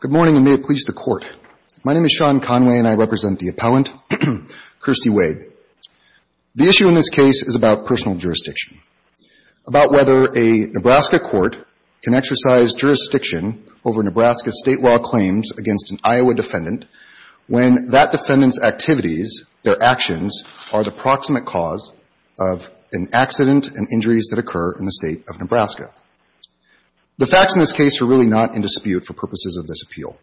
Good morning, and may it please the Court. My name is Sean Conway, and I represent the appellant, Kirstie Wade. The issue in this case is about personal jurisdiction, about whether a Nebraska court can exercise jurisdiction over Nebraska state law claims against an Iowa defendant when that defendant's activities, their actions, are the proximate cause of an accident and injuries that occur in the state of Nebraska. The facts in this case are really not in dispute for purposes of this appeal.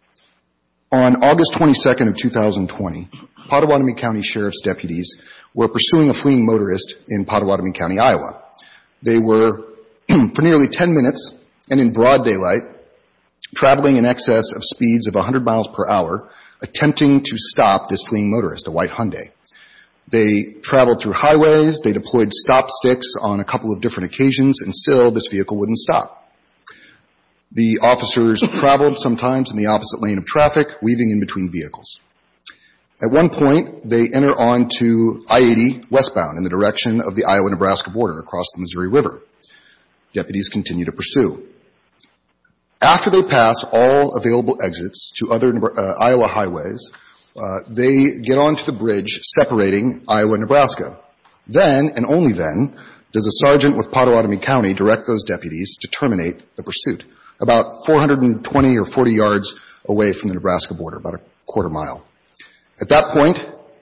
On August 22nd of 2020, Pottawattamie County Sheriff's deputies were pursuing a fleeing motorist in Pottawattamie County, Iowa. They were, for nearly ten minutes and in broad daylight, traveling in excess of speeds of 100 miles per hour, attempting to stop this fleeing motorist, a white Hyundai. They traveled through highways. They deployed stop sticks on a couple of different occasions, and still this vehicle wouldn't stop. The officers traveled sometimes in the opposite lane of traffic, weaving in between vehicles. At one point, they enter on to I-80 westbound in the direction of the Iowa-Nebraska border across the Missouri River. Deputies continue to pursue. After they pass all available exits to other Iowa highways, they get on to the bridge separating Iowa and Nebraska. Then, and only then, does a sergeant with Pottawattamie County direct those deputies to terminate the pursuit about 420 or 40 yards away from the Nebraska border, about a quarter mile. At that point,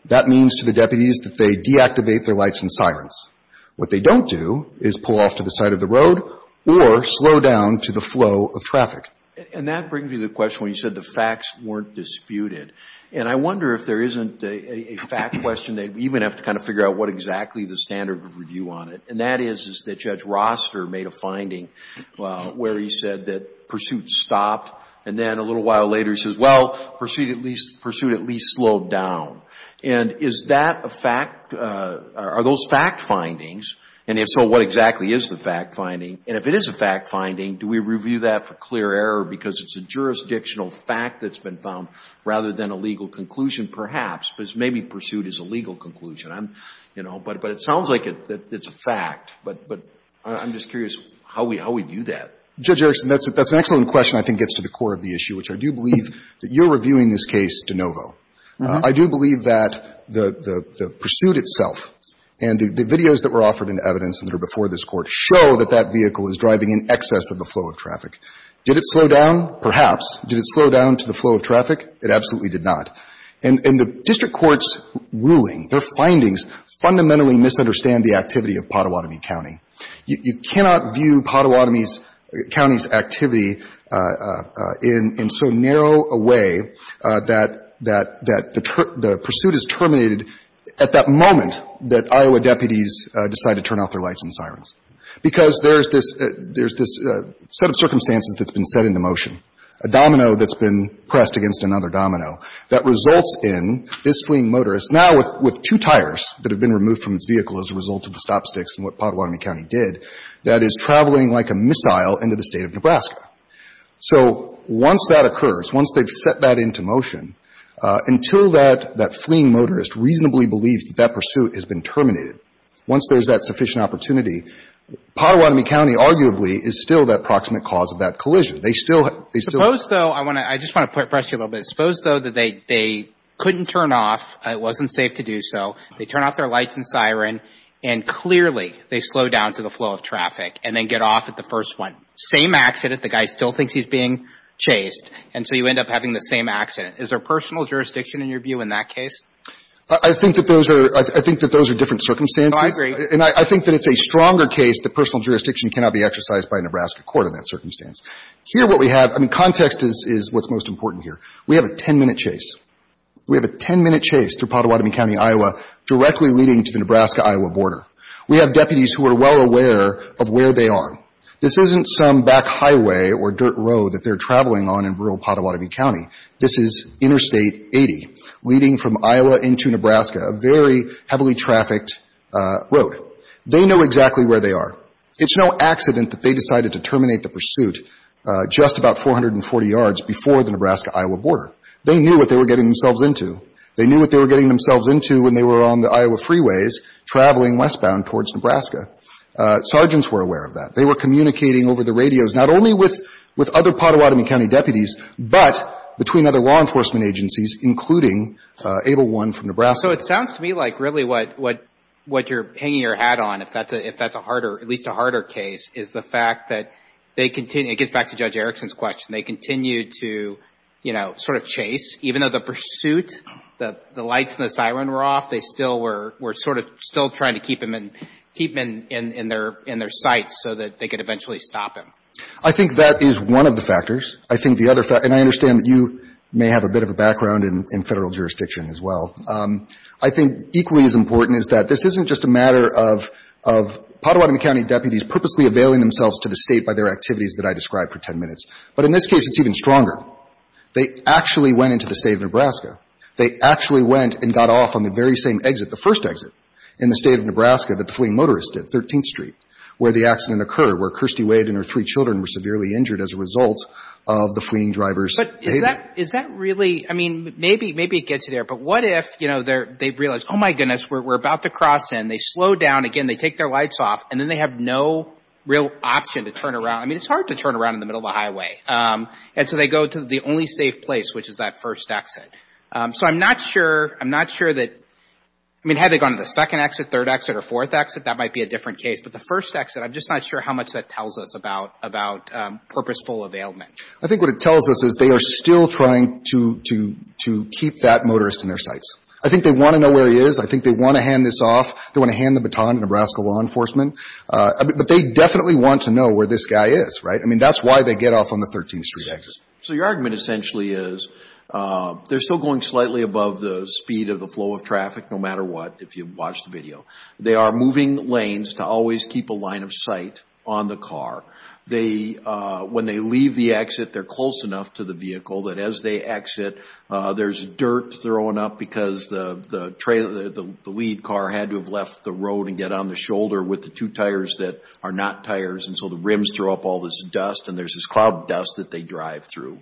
that means to the deputies that they deactivate their lights and sirens. What they don't do is pull off to the side of the road or slow down to the flow of traffic. And that brings me to the question when you said the facts weren't disputed. And I wonder if there isn't a fact question that you would have to kind of figure out what exactly the standard of review on it. And that is that Judge Roster made a finding where he said that pursuit stopped. And then a little while later, he says, well, pursuit at least slowed down. And is that a fact? Are those fact findings? And if so, what exactly is the fact finding? And if it is a fact finding, do we review that for clear error because it's a jurisdictional fact that's been found rather than a legal conclusion perhaps? Because maybe pursuit is a legal conclusion. I'm, you know, but it sounds like it's a fact. But I'm just curious how we do that. Judge Erickson, that's an excellent question I think gets to the core of the issue, which I do believe that you're reviewing this case de novo. I do believe that the pursuit itself and the videos that were offered in evidence that are before this Court show that that vehicle is driving in excess of the flow of traffic. Did it slow down? Perhaps. Did it slow down to the flow of traffic? It absolutely did not. And the district court's ruling, their findings, fundamentally misunderstand the activity of Pottawatomie County. You cannot view Pottawatomie County's activity in so narrow a way that the pursuit is terminated at that moment that Iowa deputies decide to turn off their lights and sirens. Because there's this set of circumstances that's been set into motion, a domino that's been pressed against another domino that results in this fleeing motorist, now with two tires that have been removed from his vehicle as a result of the stop sticks and what Pottawatomie County did, that is traveling like a missile into the State of Nebraska. So once that occurs, once they've set that into motion, until that fleeing motorist reasonably believes that that pursuit has been terminated, once there's that sufficient opportunity, Pottawatomie County arguably is still that proximate cause of that collision. They still have – they still have – Suppose, though, I want to – I just want to press you a little bit. Suppose, though, that they couldn't turn off, it wasn't safe to do so, they turn off their lights and siren, and clearly they slow down to the flow of traffic and then get off at the first one. Same accident, the guy still thinks he's being chased, and so you end up having the same accident. Is there personal jurisdiction in your view in that case? I think that those are – I think that those are different circumstances. Oh, I agree. And I think that it's a stronger case that personal jurisdiction cannot be exercised by a Nebraska court in that circumstance. Here what we have – I mean, context is what's most important here. We have a 10-minute chase. We have a 10-minute chase through Pottawatomie County, Iowa, directly leading to the Nebraska-Iowa border. We have deputies who are well aware of where they are. This isn't some back highway or dirt road that they're traveling on in rural Pottawatomie County. This is Interstate 80 leading from the border. They know exactly where they are. It's no accident that they decided to terminate the pursuit just about 440 yards before the Nebraska-Iowa border. They knew what they were getting themselves into. They knew what they were getting themselves into when they were on the Iowa freeways traveling westbound towards Nebraska. Sergeants were aware of that. They were communicating over the radios, not only with other Pottawatomie County deputies, but between other law enforcement agencies, including ABLE 1 from Nebraska. So it sounds to me like really what you're hanging your hat on, if that's a harder – at least a harder case, is the fact that they continue – it gets back to Judge Erickson's question. They continue to, you know, sort of chase. Even though the pursuit, the lights and the siren were off, they still were sort of still trying to keep him in their sights so that they could eventually stop him. I think that is one of the factors. I think the other – and I understand that you may have a bit of a background in Federal jurisdiction as well – I think equally as important is that this isn't just a matter of – of Pottawatomie County deputies purposely availing themselves to the State by their activities that I described for 10 minutes. But in this case, it's even stronger. They actually went into the State of Nebraska. They actually went and got off on the very same exit, the first exit, in the State of Nebraska that the fleeing motorist did, 13th Street, where the accident occurred, where Kirstie Wade and her three children were severely injured as a result of the fleeing driver's behavior. But is that – is that really – I mean, maybe – maybe it gets you there. But what if, you know, they're – they realize, oh, my goodness, we're about to cross in. They slow down again. They take their lights off. And then they have no real option to turn around. I mean, it's hard to turn around in the middle of a highway. And so they go to the only safe place, which is that first exit. So I'm not sure – I'm not sure that – I mean, had they gone to the second exit, third exit, or fourth exit, that might be a different case. But the first exit, I'm just not sure how much that tells us about – about purposeful availment. I think what it tells us is they are still trying to – to – to keep that motorist in their sights. I think they want to know where he is. I think they want to hand this off. They want to hand the baton to Nebraska law enforcement. But they definitely want to know where this guy is, right? I mean, that's why they get off on the 13th Street exit. So your argument essentially is they're still going slightly above the speed of the flow of traffic, no matter what, if you watch the video. They are moving lanes to always keep a line of sight on the car. They – when they leave the exit, they're close enough to the vehicle that as they exit, there's dirt thrown up because the – the lead car had to have left the road and get on the shoulder with the two tires that are not tires. And so the rims throw up all this dust, and there's this cloud of dust that they drive through.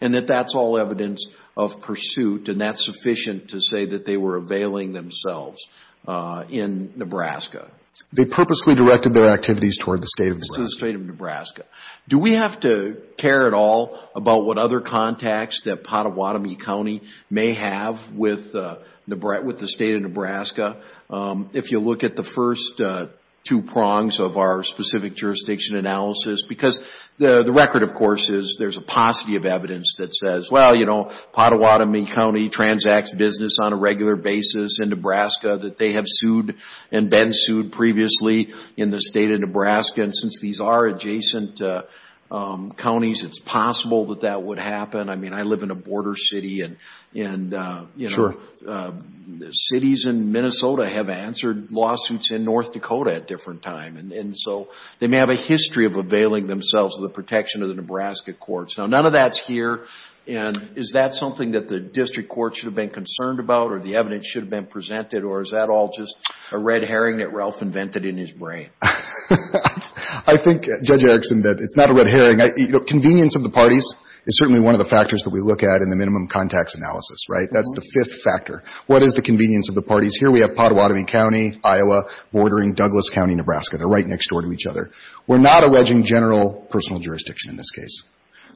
And that that's all evidence of pursuit, and that's sufficient to say that they were availing themselves in Nebraska. They purposely directed their activities toward the state of Nebraska. Do we have to care at all about what other contacts that Pottawatomie County may have with the state of Nebraska? If you look at the first two prongs of our specific jurisdiction analysis – because the record, of course, is there's a paucity of evidence that says, well, you know, Pottawatomie County transacts business on a regular basis in Nebraska that they have sued and been sued previously in the state of Nebraska. And since these are adjacent counties, it's possible that that would happen. I mean, I live in a border city, and you know, cities in Minnesota have answered lawsuits in North Dakota at different times. And so they may have a history of availing themselves of the protection of the Nebraska courts. Now, none of that's here, and is that something that the district court should have been concerned about or the evidence should have been presented, or is that all just a red herring that Ralph invented in his brain? I think, Judge Erickson, that it's not a red herring. You know, convenience of the parties is certainly one of the factors that we look at in the minimum contacts analysis, right? That's the fifth factor. What is the convenience of the parties? Here we have Pottawatomie County, Iowa, bordering Douglas County, Nebraska. They're right next door to each other. We're not alleging general personal jurisdiction in this case,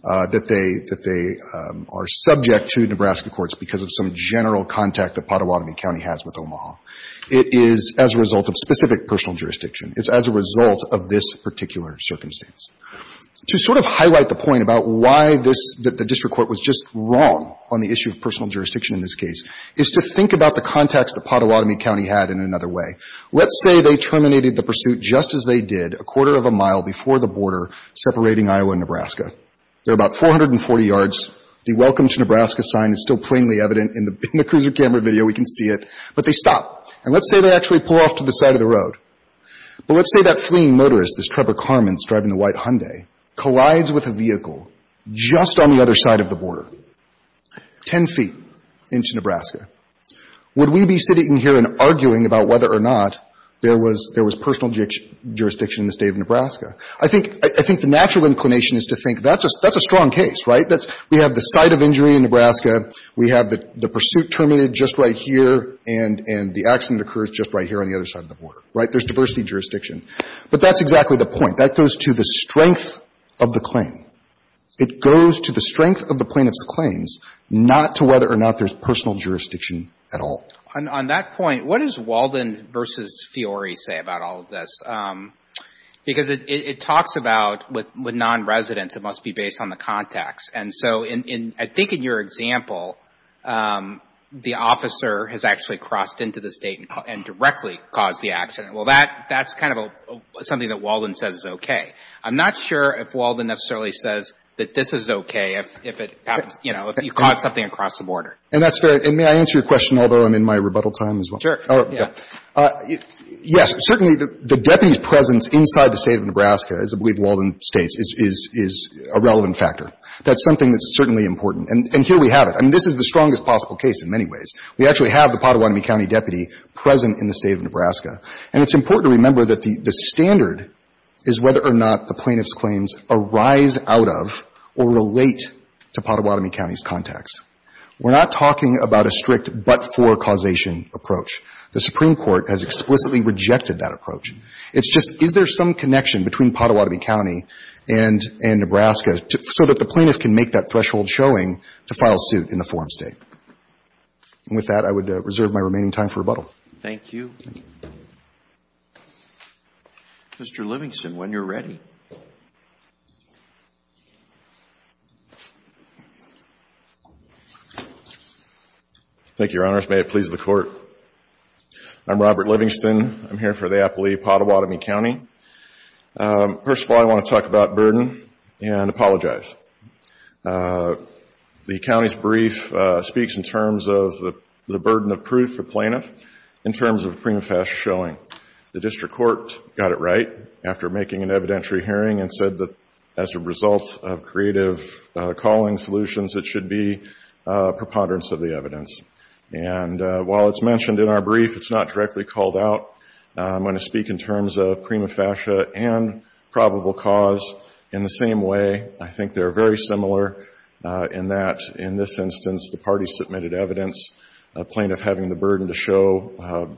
that they are subject to Nebraska courts because of some general contact that Pottawatomie County has with Omaha. It is as a result of specific personal jurisdiction. It's as a result of this particular circumstance. To sort of highlight the point about why this — that the district court was just wrong on the issue of personal jurisdiction in this case is to think about the contacts that Pottawatomie County had in another way. Let's say they terminated the pursuit just as they did a quarter of a mile before the border separating Iowa and Nebraska. They're about 440 yards. The welcome to Nebraska sign is still plainly evident in the — in the cruiser camera video. We can see it. But they stop. And let's say they actually pull off to the side of the road. But let's say that fleeing motorist, this Trevor Carmens driving the white Hyundai, collides with a vehicle just on the other side of the border, 10 feet into Nebraska. Would we be sitting here and arguing about whether or not there was — there was personal jurisdiction in the State of Nebraska? I think — I think the natural inclination is to think that's a — that's a strong case, right? That's — we have the site of injury in Nebraska. We have the — the pursuit terminated just right here. And — and the accident occurs just right here on the other side of the border, right? There's diversity of jurisdiction. But that's exactly the point. That goes to the strength of the claim. It goes to the strength of the plaintiff's claims, not to whether or not there's personal jurisdiction at all. On that point, what does Walden v. Fiore say about all of this? Because it talks about with non-residents, it must be based on the context. And so in — I think in your example, the officer has actually crossed into the State and directly caused the accident. Well, that's kind of something that Walden says is okay. I'm not sure if Walden necessarily says that this is okay if it happens — you know, if you cause something across the border. And that's fair. And may I answer your question, although I'm in my rebuttal time as well? Sure. Yeah. Yes. Certainly, the deputy's presence inside the State of Nebraska, as I believe Walden states, is — is a relevant factor. That's something that's certainly important. And here we have it. I mean, this is the strongest possible case in many ways. We actually have the Pottawatomie County deputy present in the State of Nebraska. And it's important to remember that the — the standard is whether or not the plaintiff's claims arise out of or relate to Pottawatomie County's contacts. We're not talking about a strict but-for causation approach. The Supreme Court has explicitly rejected that approach. It's just, is there some connection between Pottawatomie County and — and Nebraska so that the plaintiff can make that threshold showing to file suit in the forum State? With that, I would reserve my remaining time for rebuttal. Thank you. Mr. Livingston, when you're ready. Thank you, Your Honors. May it please the Court. I'm Robert Livingston. I'm here for the appellee, Pottawatomie County. First of all, I want to talk about burden and apologize. The County's brief speaks in terms of the burden of proof for plaintiff in terms of prima facie showing. The District Court got it right after making an evidentiary hearing and said that as a result of creative calling solutions, it should be preponderance of the evidence. And while it's mentioned in our brief, it's not directly called out. I'm going to speak in terms of prima facie and probable cause in the same way. I think there are very similar in that in this instance, the party submitted evidence, a plaintiff having the burden to show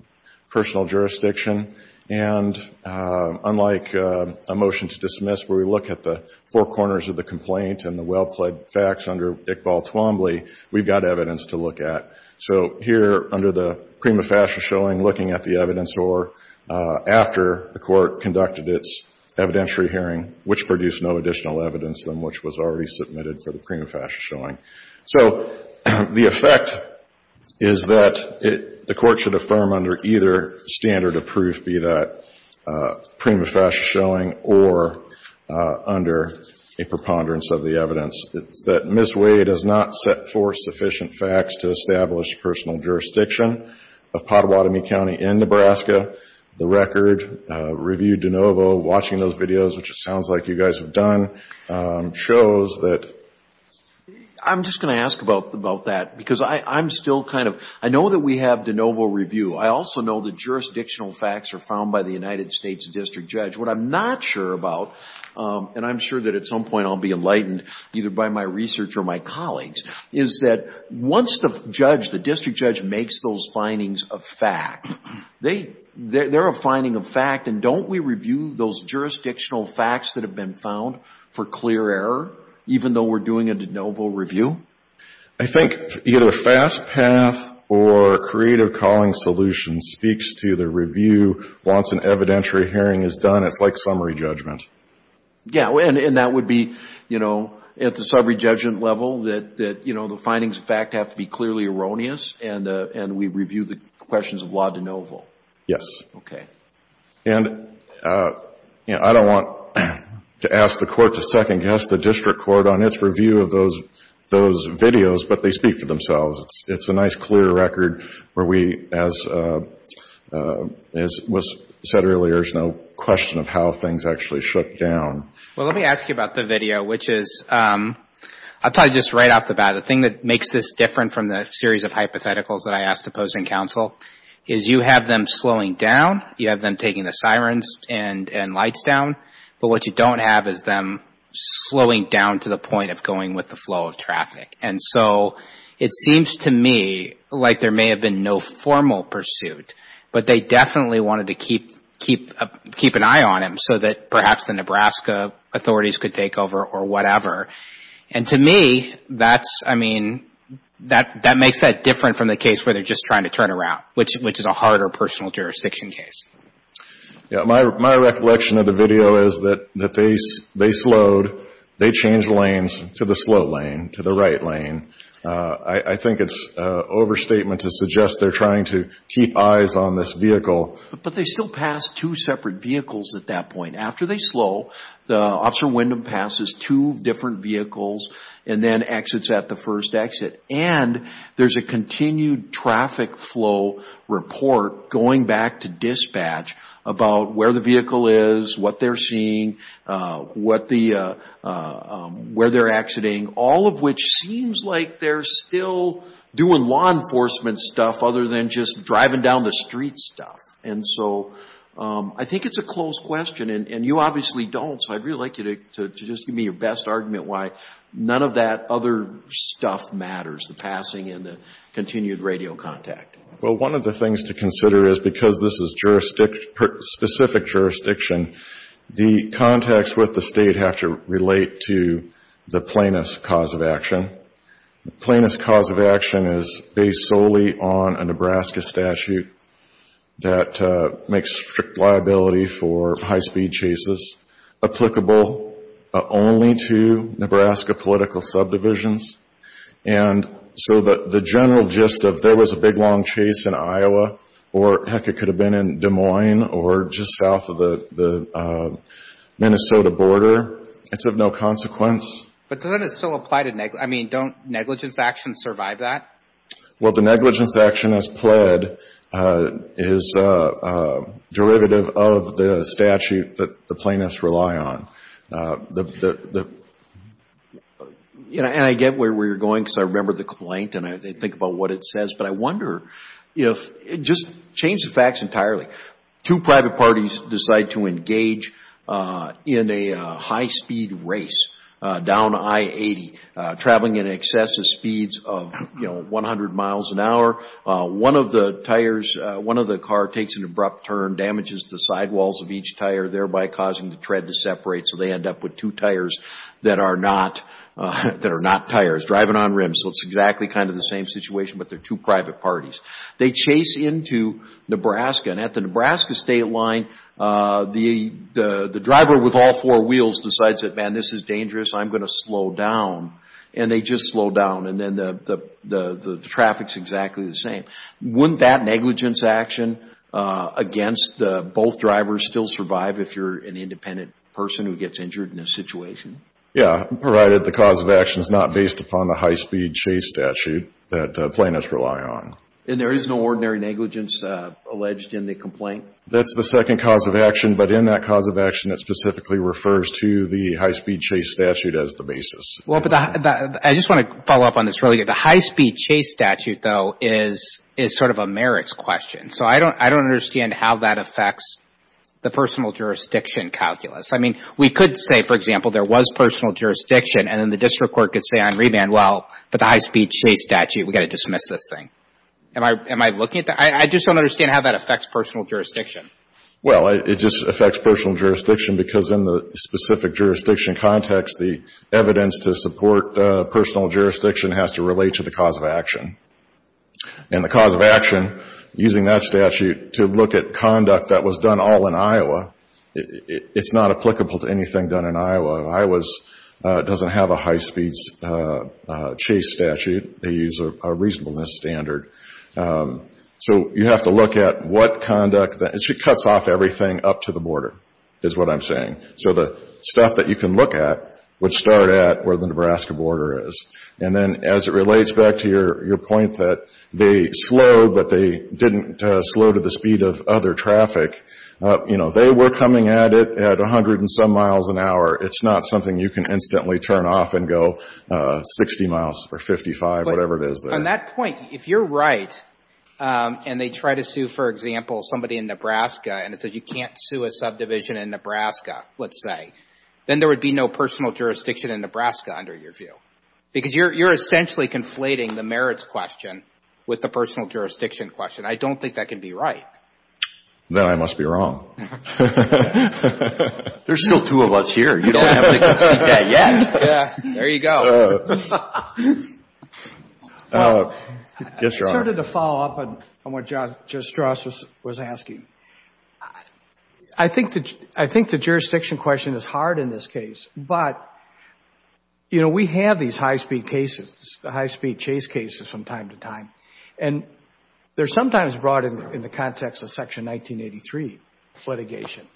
personal jurisdiction. And unlike a motion to dismiss where we look at the four corners of the complaint and the well-plaid facts under Iqbal Twombly, we've got evidence to look at. So here under the prima facie showing, looking at the evidence or after the Court conducted its evidentiary hearing, which produced no additional evidence against them, which was already submitted for the prima facie showing. So the effect is that the Court should affirm under either standard of proof, be that prima facie showing or under a preponderance of the evidence. It's that Ms. Wade has not set forth sufficient facts to establish personal jurisdiction of Pottawatomie County in Nebraska. The record review de novo, watching those videos, which it sounds like you guys have done, shows that... I'm just going to ask about that because I'm still kind of, I know that we have de novo review. I also know that jurisdictional facts are found by the United States district judge. What I'm not sure about, and I'm sure that at some point I'll be enlightened either by my research or my colleagues, is that once the judge, the district judge, makes those findings of fact, and don't we review those jurisdictional facts that have been found for clear error, even though we're doing a de novo review? I think either fast path or creative calling solution speaks to the review. Once an evidentiary hearing is done, it's like summary judgment. Yeah, and that would be, you know, at the summary judgment level that, you know, the findings of fact have to be clearly erroneous and we review the questions of law de novo. Yes. Okay. And, you know, I don't want to ask the court to second guess the district court on its review of those videos, but they speak for themselves. It's a nice clear record where we, as was said earlier, there's no question of how things actually shook down. Well, let me ask you about the video, which is... I'll tell you just right off the bat, the thing that makes this different from the series of hypotheticals that I asked to pose in counsel is you have them slowing down, you have them taking the sirens and lights down, but what you don't have is them slowing down to the point of going with the flow of traffic. And so it seems to me like there may have been no formal pursuit, but they definitely wanted to keep an eye on him so that perhaps the Nebraska authorities could take over or whatever. And to me, that's, I mean, that makes that different from the case where they're just trying to turn around, which is a harder personal jurisdiction case. My recollection of the video is that they slowed, they changed lanes to the slow lane, to the right lane. I think it's an overstatement to suggest they're trying to keep eyes on this vehicle. But they still pass two separate vehicles at that point. After they slow, Officer Windham passes two different vehicles and then exits at the first exit. And there's a continued traffic flow report going back to dispatch about where the vehicle is, what they're seeing, where they're exiting, all of which seems like they're still doing law enforcement stuff other than just driving down the street stuff. And so I think it's a close question. And you obviously don't, so I'd really like you to just give me your best argument why none of that other stuff matters, the passing and the continued radio contact. Well, one of the things to consider is because this is jurisdiction, specific jurisdiction, the contacts with the state have to relate to the plaintiff's cause of action. The plaintiff's cause of action is based solely on a Nebraska statute that makes strict liability for high-speed chases applicable only to Nebraska political subdivisions. And so the general gist of there was a big, long chase in Iowa, or heck, it could have been in Des Moines or just south of the Minnesota border, it's of no consequence. But doesn't it still apply to, I mean, don't negligence actions survive that? Well, the negligence action as pled is derivative of the statute that the plaintiffs rely on. And I get where you're going because I remember the complaint and I think about what it says, but I wonder if, just change the facts entirely, two private parties decide to engage in a high-speed race down I-80, traveling in excess of speeds of, you know, 100 miles an hour. One of the tires, one of the car takes an abrupt turn, damages the sidewalls of each tire, thereby causing the tread to separate, so they end up with two tires that are not tires, driving on rims. So it's exactly kind of the same situation, but they're two private parties. They chase into Nebraska and at the Nebraska state line, the driver with all four wheels decides that, man, this is dangerous, I'm going to slow down. And they just slow down and then the traffic's exactly the same. Wouldn't that negligence action against both drivers still survive if you're an independent person who gets injured in this situation? Yeah, provided the cause of action is not based upon the high-speed chase statute that the plaintiffs rely on. And there is no ordinary negligence alleged in the complaint? That's the second cause of action, but in that cause of action, it specifically refers to the high-speed chase statute as the basis. Well, but I just want to follow up on this really good. The high-speed chase statute, though, is sort of a merits question. So I don't understand how that affects the personal jurisdiction calculus. I mean, we could say, for example, there was personal jurisdiction and then the district court could say on remand, well, but the high-speed chase statute, we've got to dismiss this thing. Am I looking at that? I just don't understand how that affects personal jurisdiction. Well, it just affects personal jurisdiction because in the specific jurisdiction context, the evidence to support personal jurisdiction has to relate to the cause of action. And the cause of action, using that statute to look at conduct that was done all in Iowa, it's not applicable to anything done in Iowa. Iowa doesn't have a high-speed chase statute. They use a reasonableness standard. So you have to look at what conduct, and it cuts off everything up to the border is what I'm saying. So the stuff that you can look at would start at where the Nebraska border is. And then as it relates back to your point that they slowed, but they didn't slow to the speed of other traffic, they were coming at it at a hundred and some miles an hour. It's not something you can instantly turn off and go 60 miles or 55, whatever it is there. But on that point, if you're right and they try to sue, for example, somebody in Nebraska and it says you can't sue a subdivision in Nebraska, let's say, then there would be no personal jurisdiction in Nebraska under your view. Because you're essentially conflating the merits question with the personal jurisdiction question. I don't think that can be right. Then I must be wrong. There's still two of us here. You don't have to concede that yet. Yeah, there you go. Well, I just wanted to follow up on what Judge Strauss was asking. I think the jurisdiction question is hard in this case. But, you know, we have these high-speed cases, the high-speed chase cases from time to time. And they're sometimes brought in the context of Section 1983 litigation.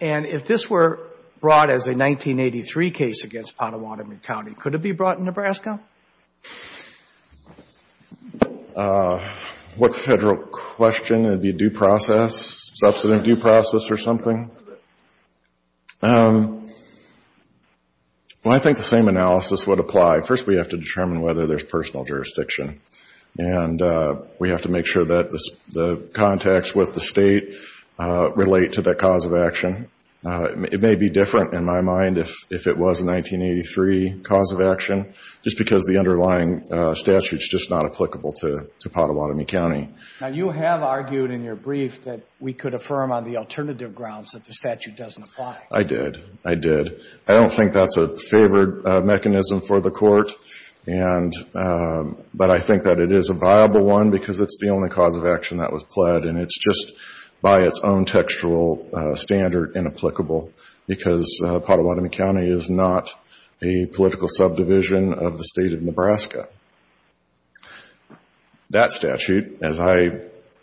And if this were brought as a 1983 case against Pottawattamie County, could it be brought in Nebraska? What federal question? It would be due process, substantive due process or something? Well, I think the same analysis would apply. First, we have to determine whether there's personal jurisdiction. And we have to make sure that the contacts with the state relate to that cause of action. It may be different in my mind if it was a 1983 cause of action, just because the underlying statute's just not applicable to Pottawattamie County. Now, you have argued in your brief that we could affirm on the alternative grounds that the statute doesn't apply. I did. I did. I don't think that's a favored mechanism for the Court. But I think that it is a viable one, because it's the only cause of action that was pled. And it's just by its own textual standard inapplicable, because Pottawattamie County is not a political county. That statute, as I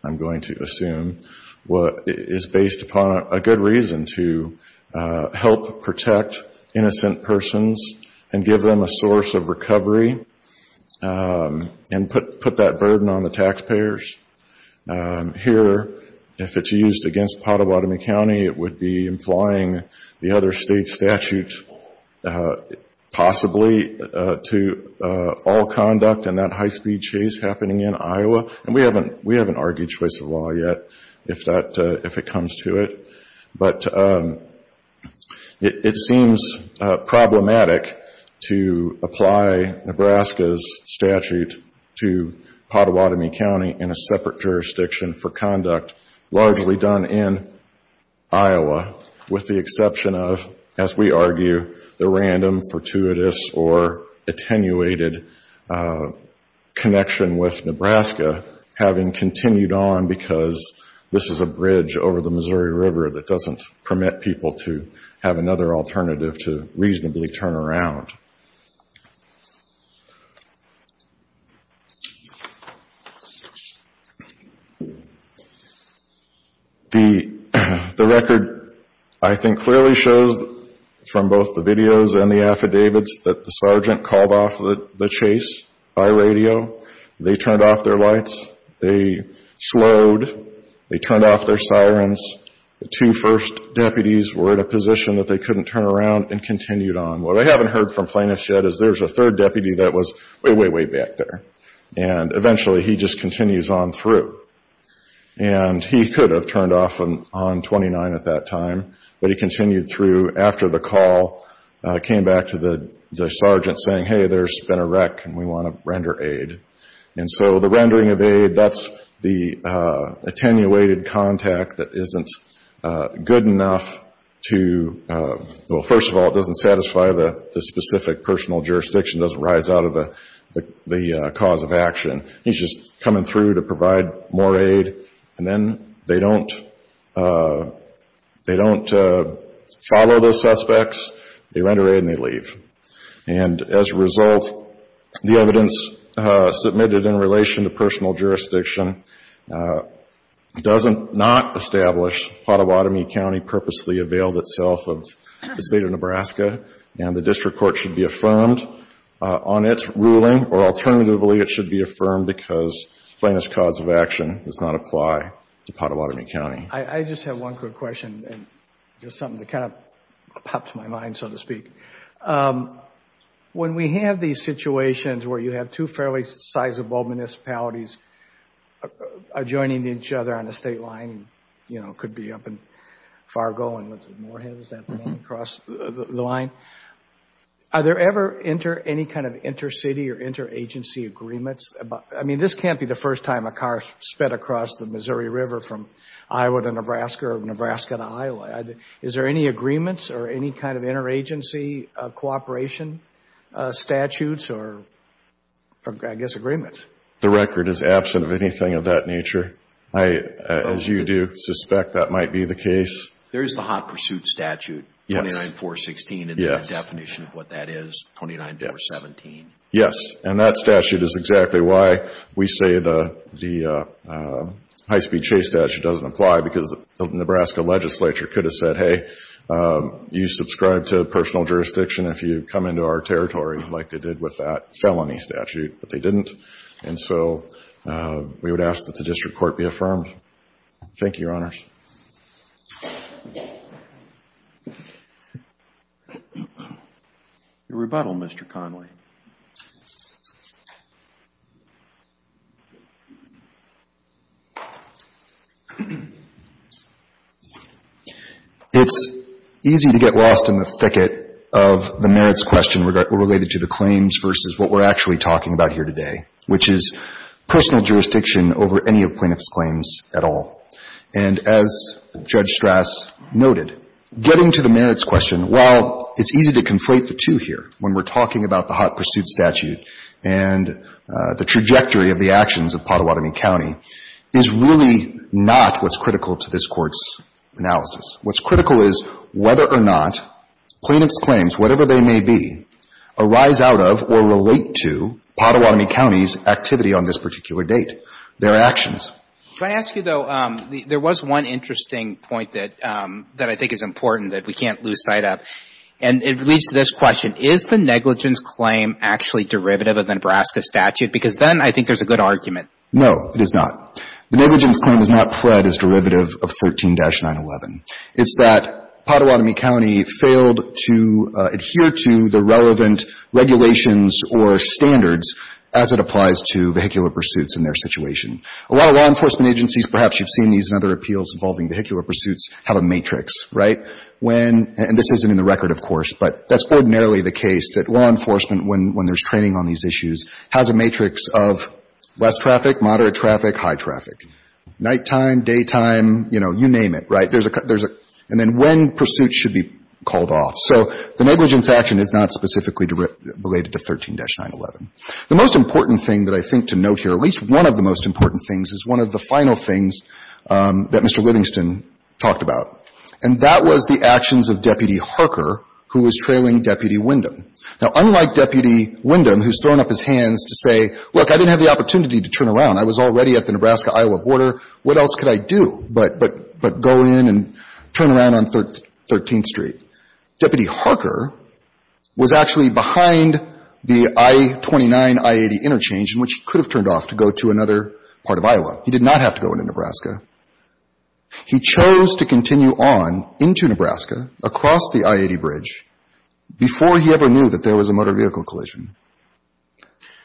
am going to assume, is based upon a good reason to help protect innocent persons and give them a source of recovery and put that burden on the taxpayers. Here, if it's used against Pottawattamie County, it would be implying the other state statutes, possibly, to all conduct and that high-speed chase happening in Iowa. And we haven't argued choice of law yet, if it comes to it. But it seems problematic to apply Nebraska's statute to Pottawattamie County in a separate jurisdiction for conduct, largely done in Iowa, with the random, fortuitous, or attenuated connection with Nebraska having continued on, because this is a bridge over the Missouri River that doesn't permit people to have another alternative to reasonably turn around. The record, I think, clearly shows from both the videos and the affidavits that the sergeant called off the chase by radio. They turned off their lights. They slowed. They turned off their sirens. The two first deputies were in a position that they couldn't turn around and continued on. What I haven't heard from plaintiffs yet is there's a third deputy that was way, way, way back there. And eventually he just continues on through. And he could have turned off on 29 at that time, but he continued through after the call, came back to the sergeant saying, hey, there's been a wreck and we want to render aid. And so the rendering of aid, that's the attenuated contact that isn't good enough to, well, first of all, it doesn't satisfy the specific personal jurisdiction. It doesn't rise out of the cause of action. He's just coming through to provide more aid. And then they don't follow the suspects. They render aid and they leave. And as a result, the evidence established, Pottawattamie County purposely availed itself of the state of Nebraska and the district court should be affirmed on its ruling. Or alternatively, it should be affirmed because plaintiff's cause of action does not apply to Pottawattamie County. I just have one quick question and just something that kind of pops my mind, so to speak. When we have these situations where you have two fairly sizable municipalities adjoining each other on a state line, you know, could be up and far going with Moorhead, is that the name, across the line? Are there ever any kind of inter-city or inter-agency agreements? I mean, this can't be the first time a car has sped across the Missouri River from Iowa to Nebraska or Nebraska to Iowa. Is there any agreements or any kind of inter-agency cooperation statutes or, I guess, agreements? The record is absent of anything of that nature. I, as you do, suspect that might be the case. There's the Hot Pursuit Statute, 29.416, and the definition of what that is, 29.417. Yes. And that statute is exactly why we say the high-speed chase statute doesn't apply because the Nebraska legislature could have said, hey, you subscribe to personal jurisdiction if you come into our territory, like they did with that felony statute, but they didn't. And so, we would ask that the district court be affirmed. Thank you, Your Honors. Your rebuttal, Mr. Connolly. It's easy to get lost in the thicket of the merits question related to the claims versus what we're actually talking about here today, which is personal jurisdiction over any of plaintiff's claims at all. And as Judge Strass noted, getting to the merits question, while it's easy to conflate the two here, when we're talking about the Hot Pursuit Statute and the trajectory of the actions of Pottawatomie County, is really not what's critical to this Court's analysis. What's critical is whether or not plaintiff's claims, whatever they may be, arise out of or relate to Pottawatomie County's activity on this particular date, their actions. Can I ask you, though, there was one interesting point that I think is important that we can't miss. Is the negligence claim actually derivative of the Nebraska statute? Because then I think there's a good argument. No, it is not. The negligence claim is not pread as derivative of 13-911. It's that Pottawatomie County failed to adhere to the relevant regulations or standards as it applies to vehicular pursuits in their situation. A lot of law enforcement agencies, perhaps you've seen these in other appeals involving vehicular pursuits, have a matrix, right? And this isn't in the record, of course, but that's ordinarily the case, that law enforcement, when there's training on these issues, has a matrix of less traffic, moderate traffic, high traffic. Nighttime, daytime, you know, you name it, right? And then when pursuits should be called off. So the negligence action is not specifically related to 13-911. The most important thing that I think to note here, at least one of the most important things, is one of the final things that Mr. Livingston talked about, and that was the actions of Deputy Harker, who was trailing Deputy Windham. Now, unlike Deputy Windham, who's thrown up his hands to say, look, I didn't have the opportunity to turn around. I was already at the Nebraska-Iowa border. What else could I do but go in and turn around on 13th Street? Deputy Harker was actually behind the I-29, I-80 interchange, which he could have turned off to go to another part of Iowa. He did not have to go into Nebraska. He chose to continue on into Nebraska, across the I-80 bridge, before he ever knew that there was a motor vehicle collision.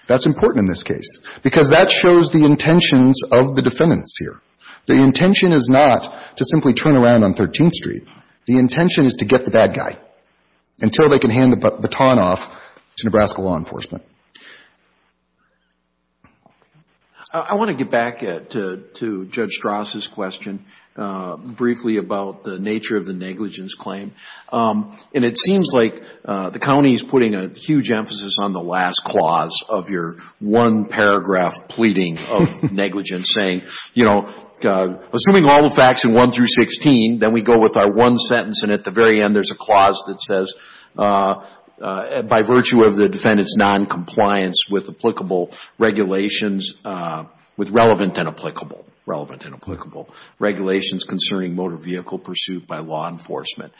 That's important in this case, because that shows the intentions of the defendants here. The intention is not to simply turn around on 13th Street. The intention is to get the bad guy until they can hand the baton off to Nebraska law enforcement. I want to get back to Judge Strauss' question, briefly, about the nature of the negligence claim. It seems like the county is putting a huge emphasis on the last clause of your one-paragraph pleading of negligence, saying, assuming all the facts in 1 through 16, then we go with our one compliance with relevant and applicable regulations concerning motor vehicle pursuit by law enforcement.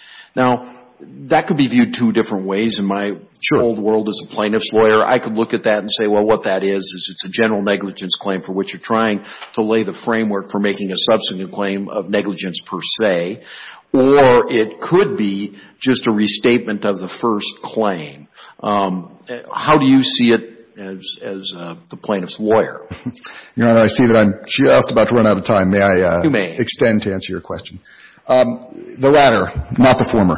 That could be viewed two different ways. In my old world as a plaintiff's lawyer, I could look at that and say, what that is, is it's a general negligence claim for which you're trying to lay the framework for making a subsequent claim of negligence per se, or it could be just a restatement of the first claim. How do you see it as the plaintiff's lawyer? Your Honor, I see that I'm just about to run out of time. May I extend to answer your question? You may. The latter, not the former.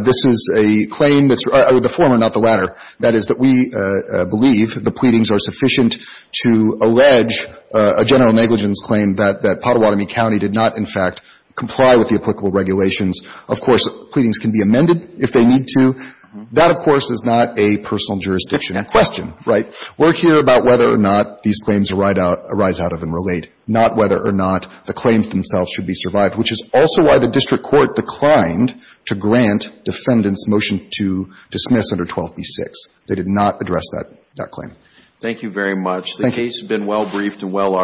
This is a claim that's the former, not the latter. That is, that we believe the pleadings are sufficient to allege a general negligence claim that Pottawatomie County did not, in fact, comply with the applicable regulations. Of course, pleadings can be amended if they need to. That, of course, is not a personal jurisdiction question, right? We're here about whether or not these claims arise out of and relate, not whether or not the claims themselves should be survived, which is also why the district court declined to grant defendants motion to dismiss under 12b-6. They did not address that claim. Thank you very much. Thank you.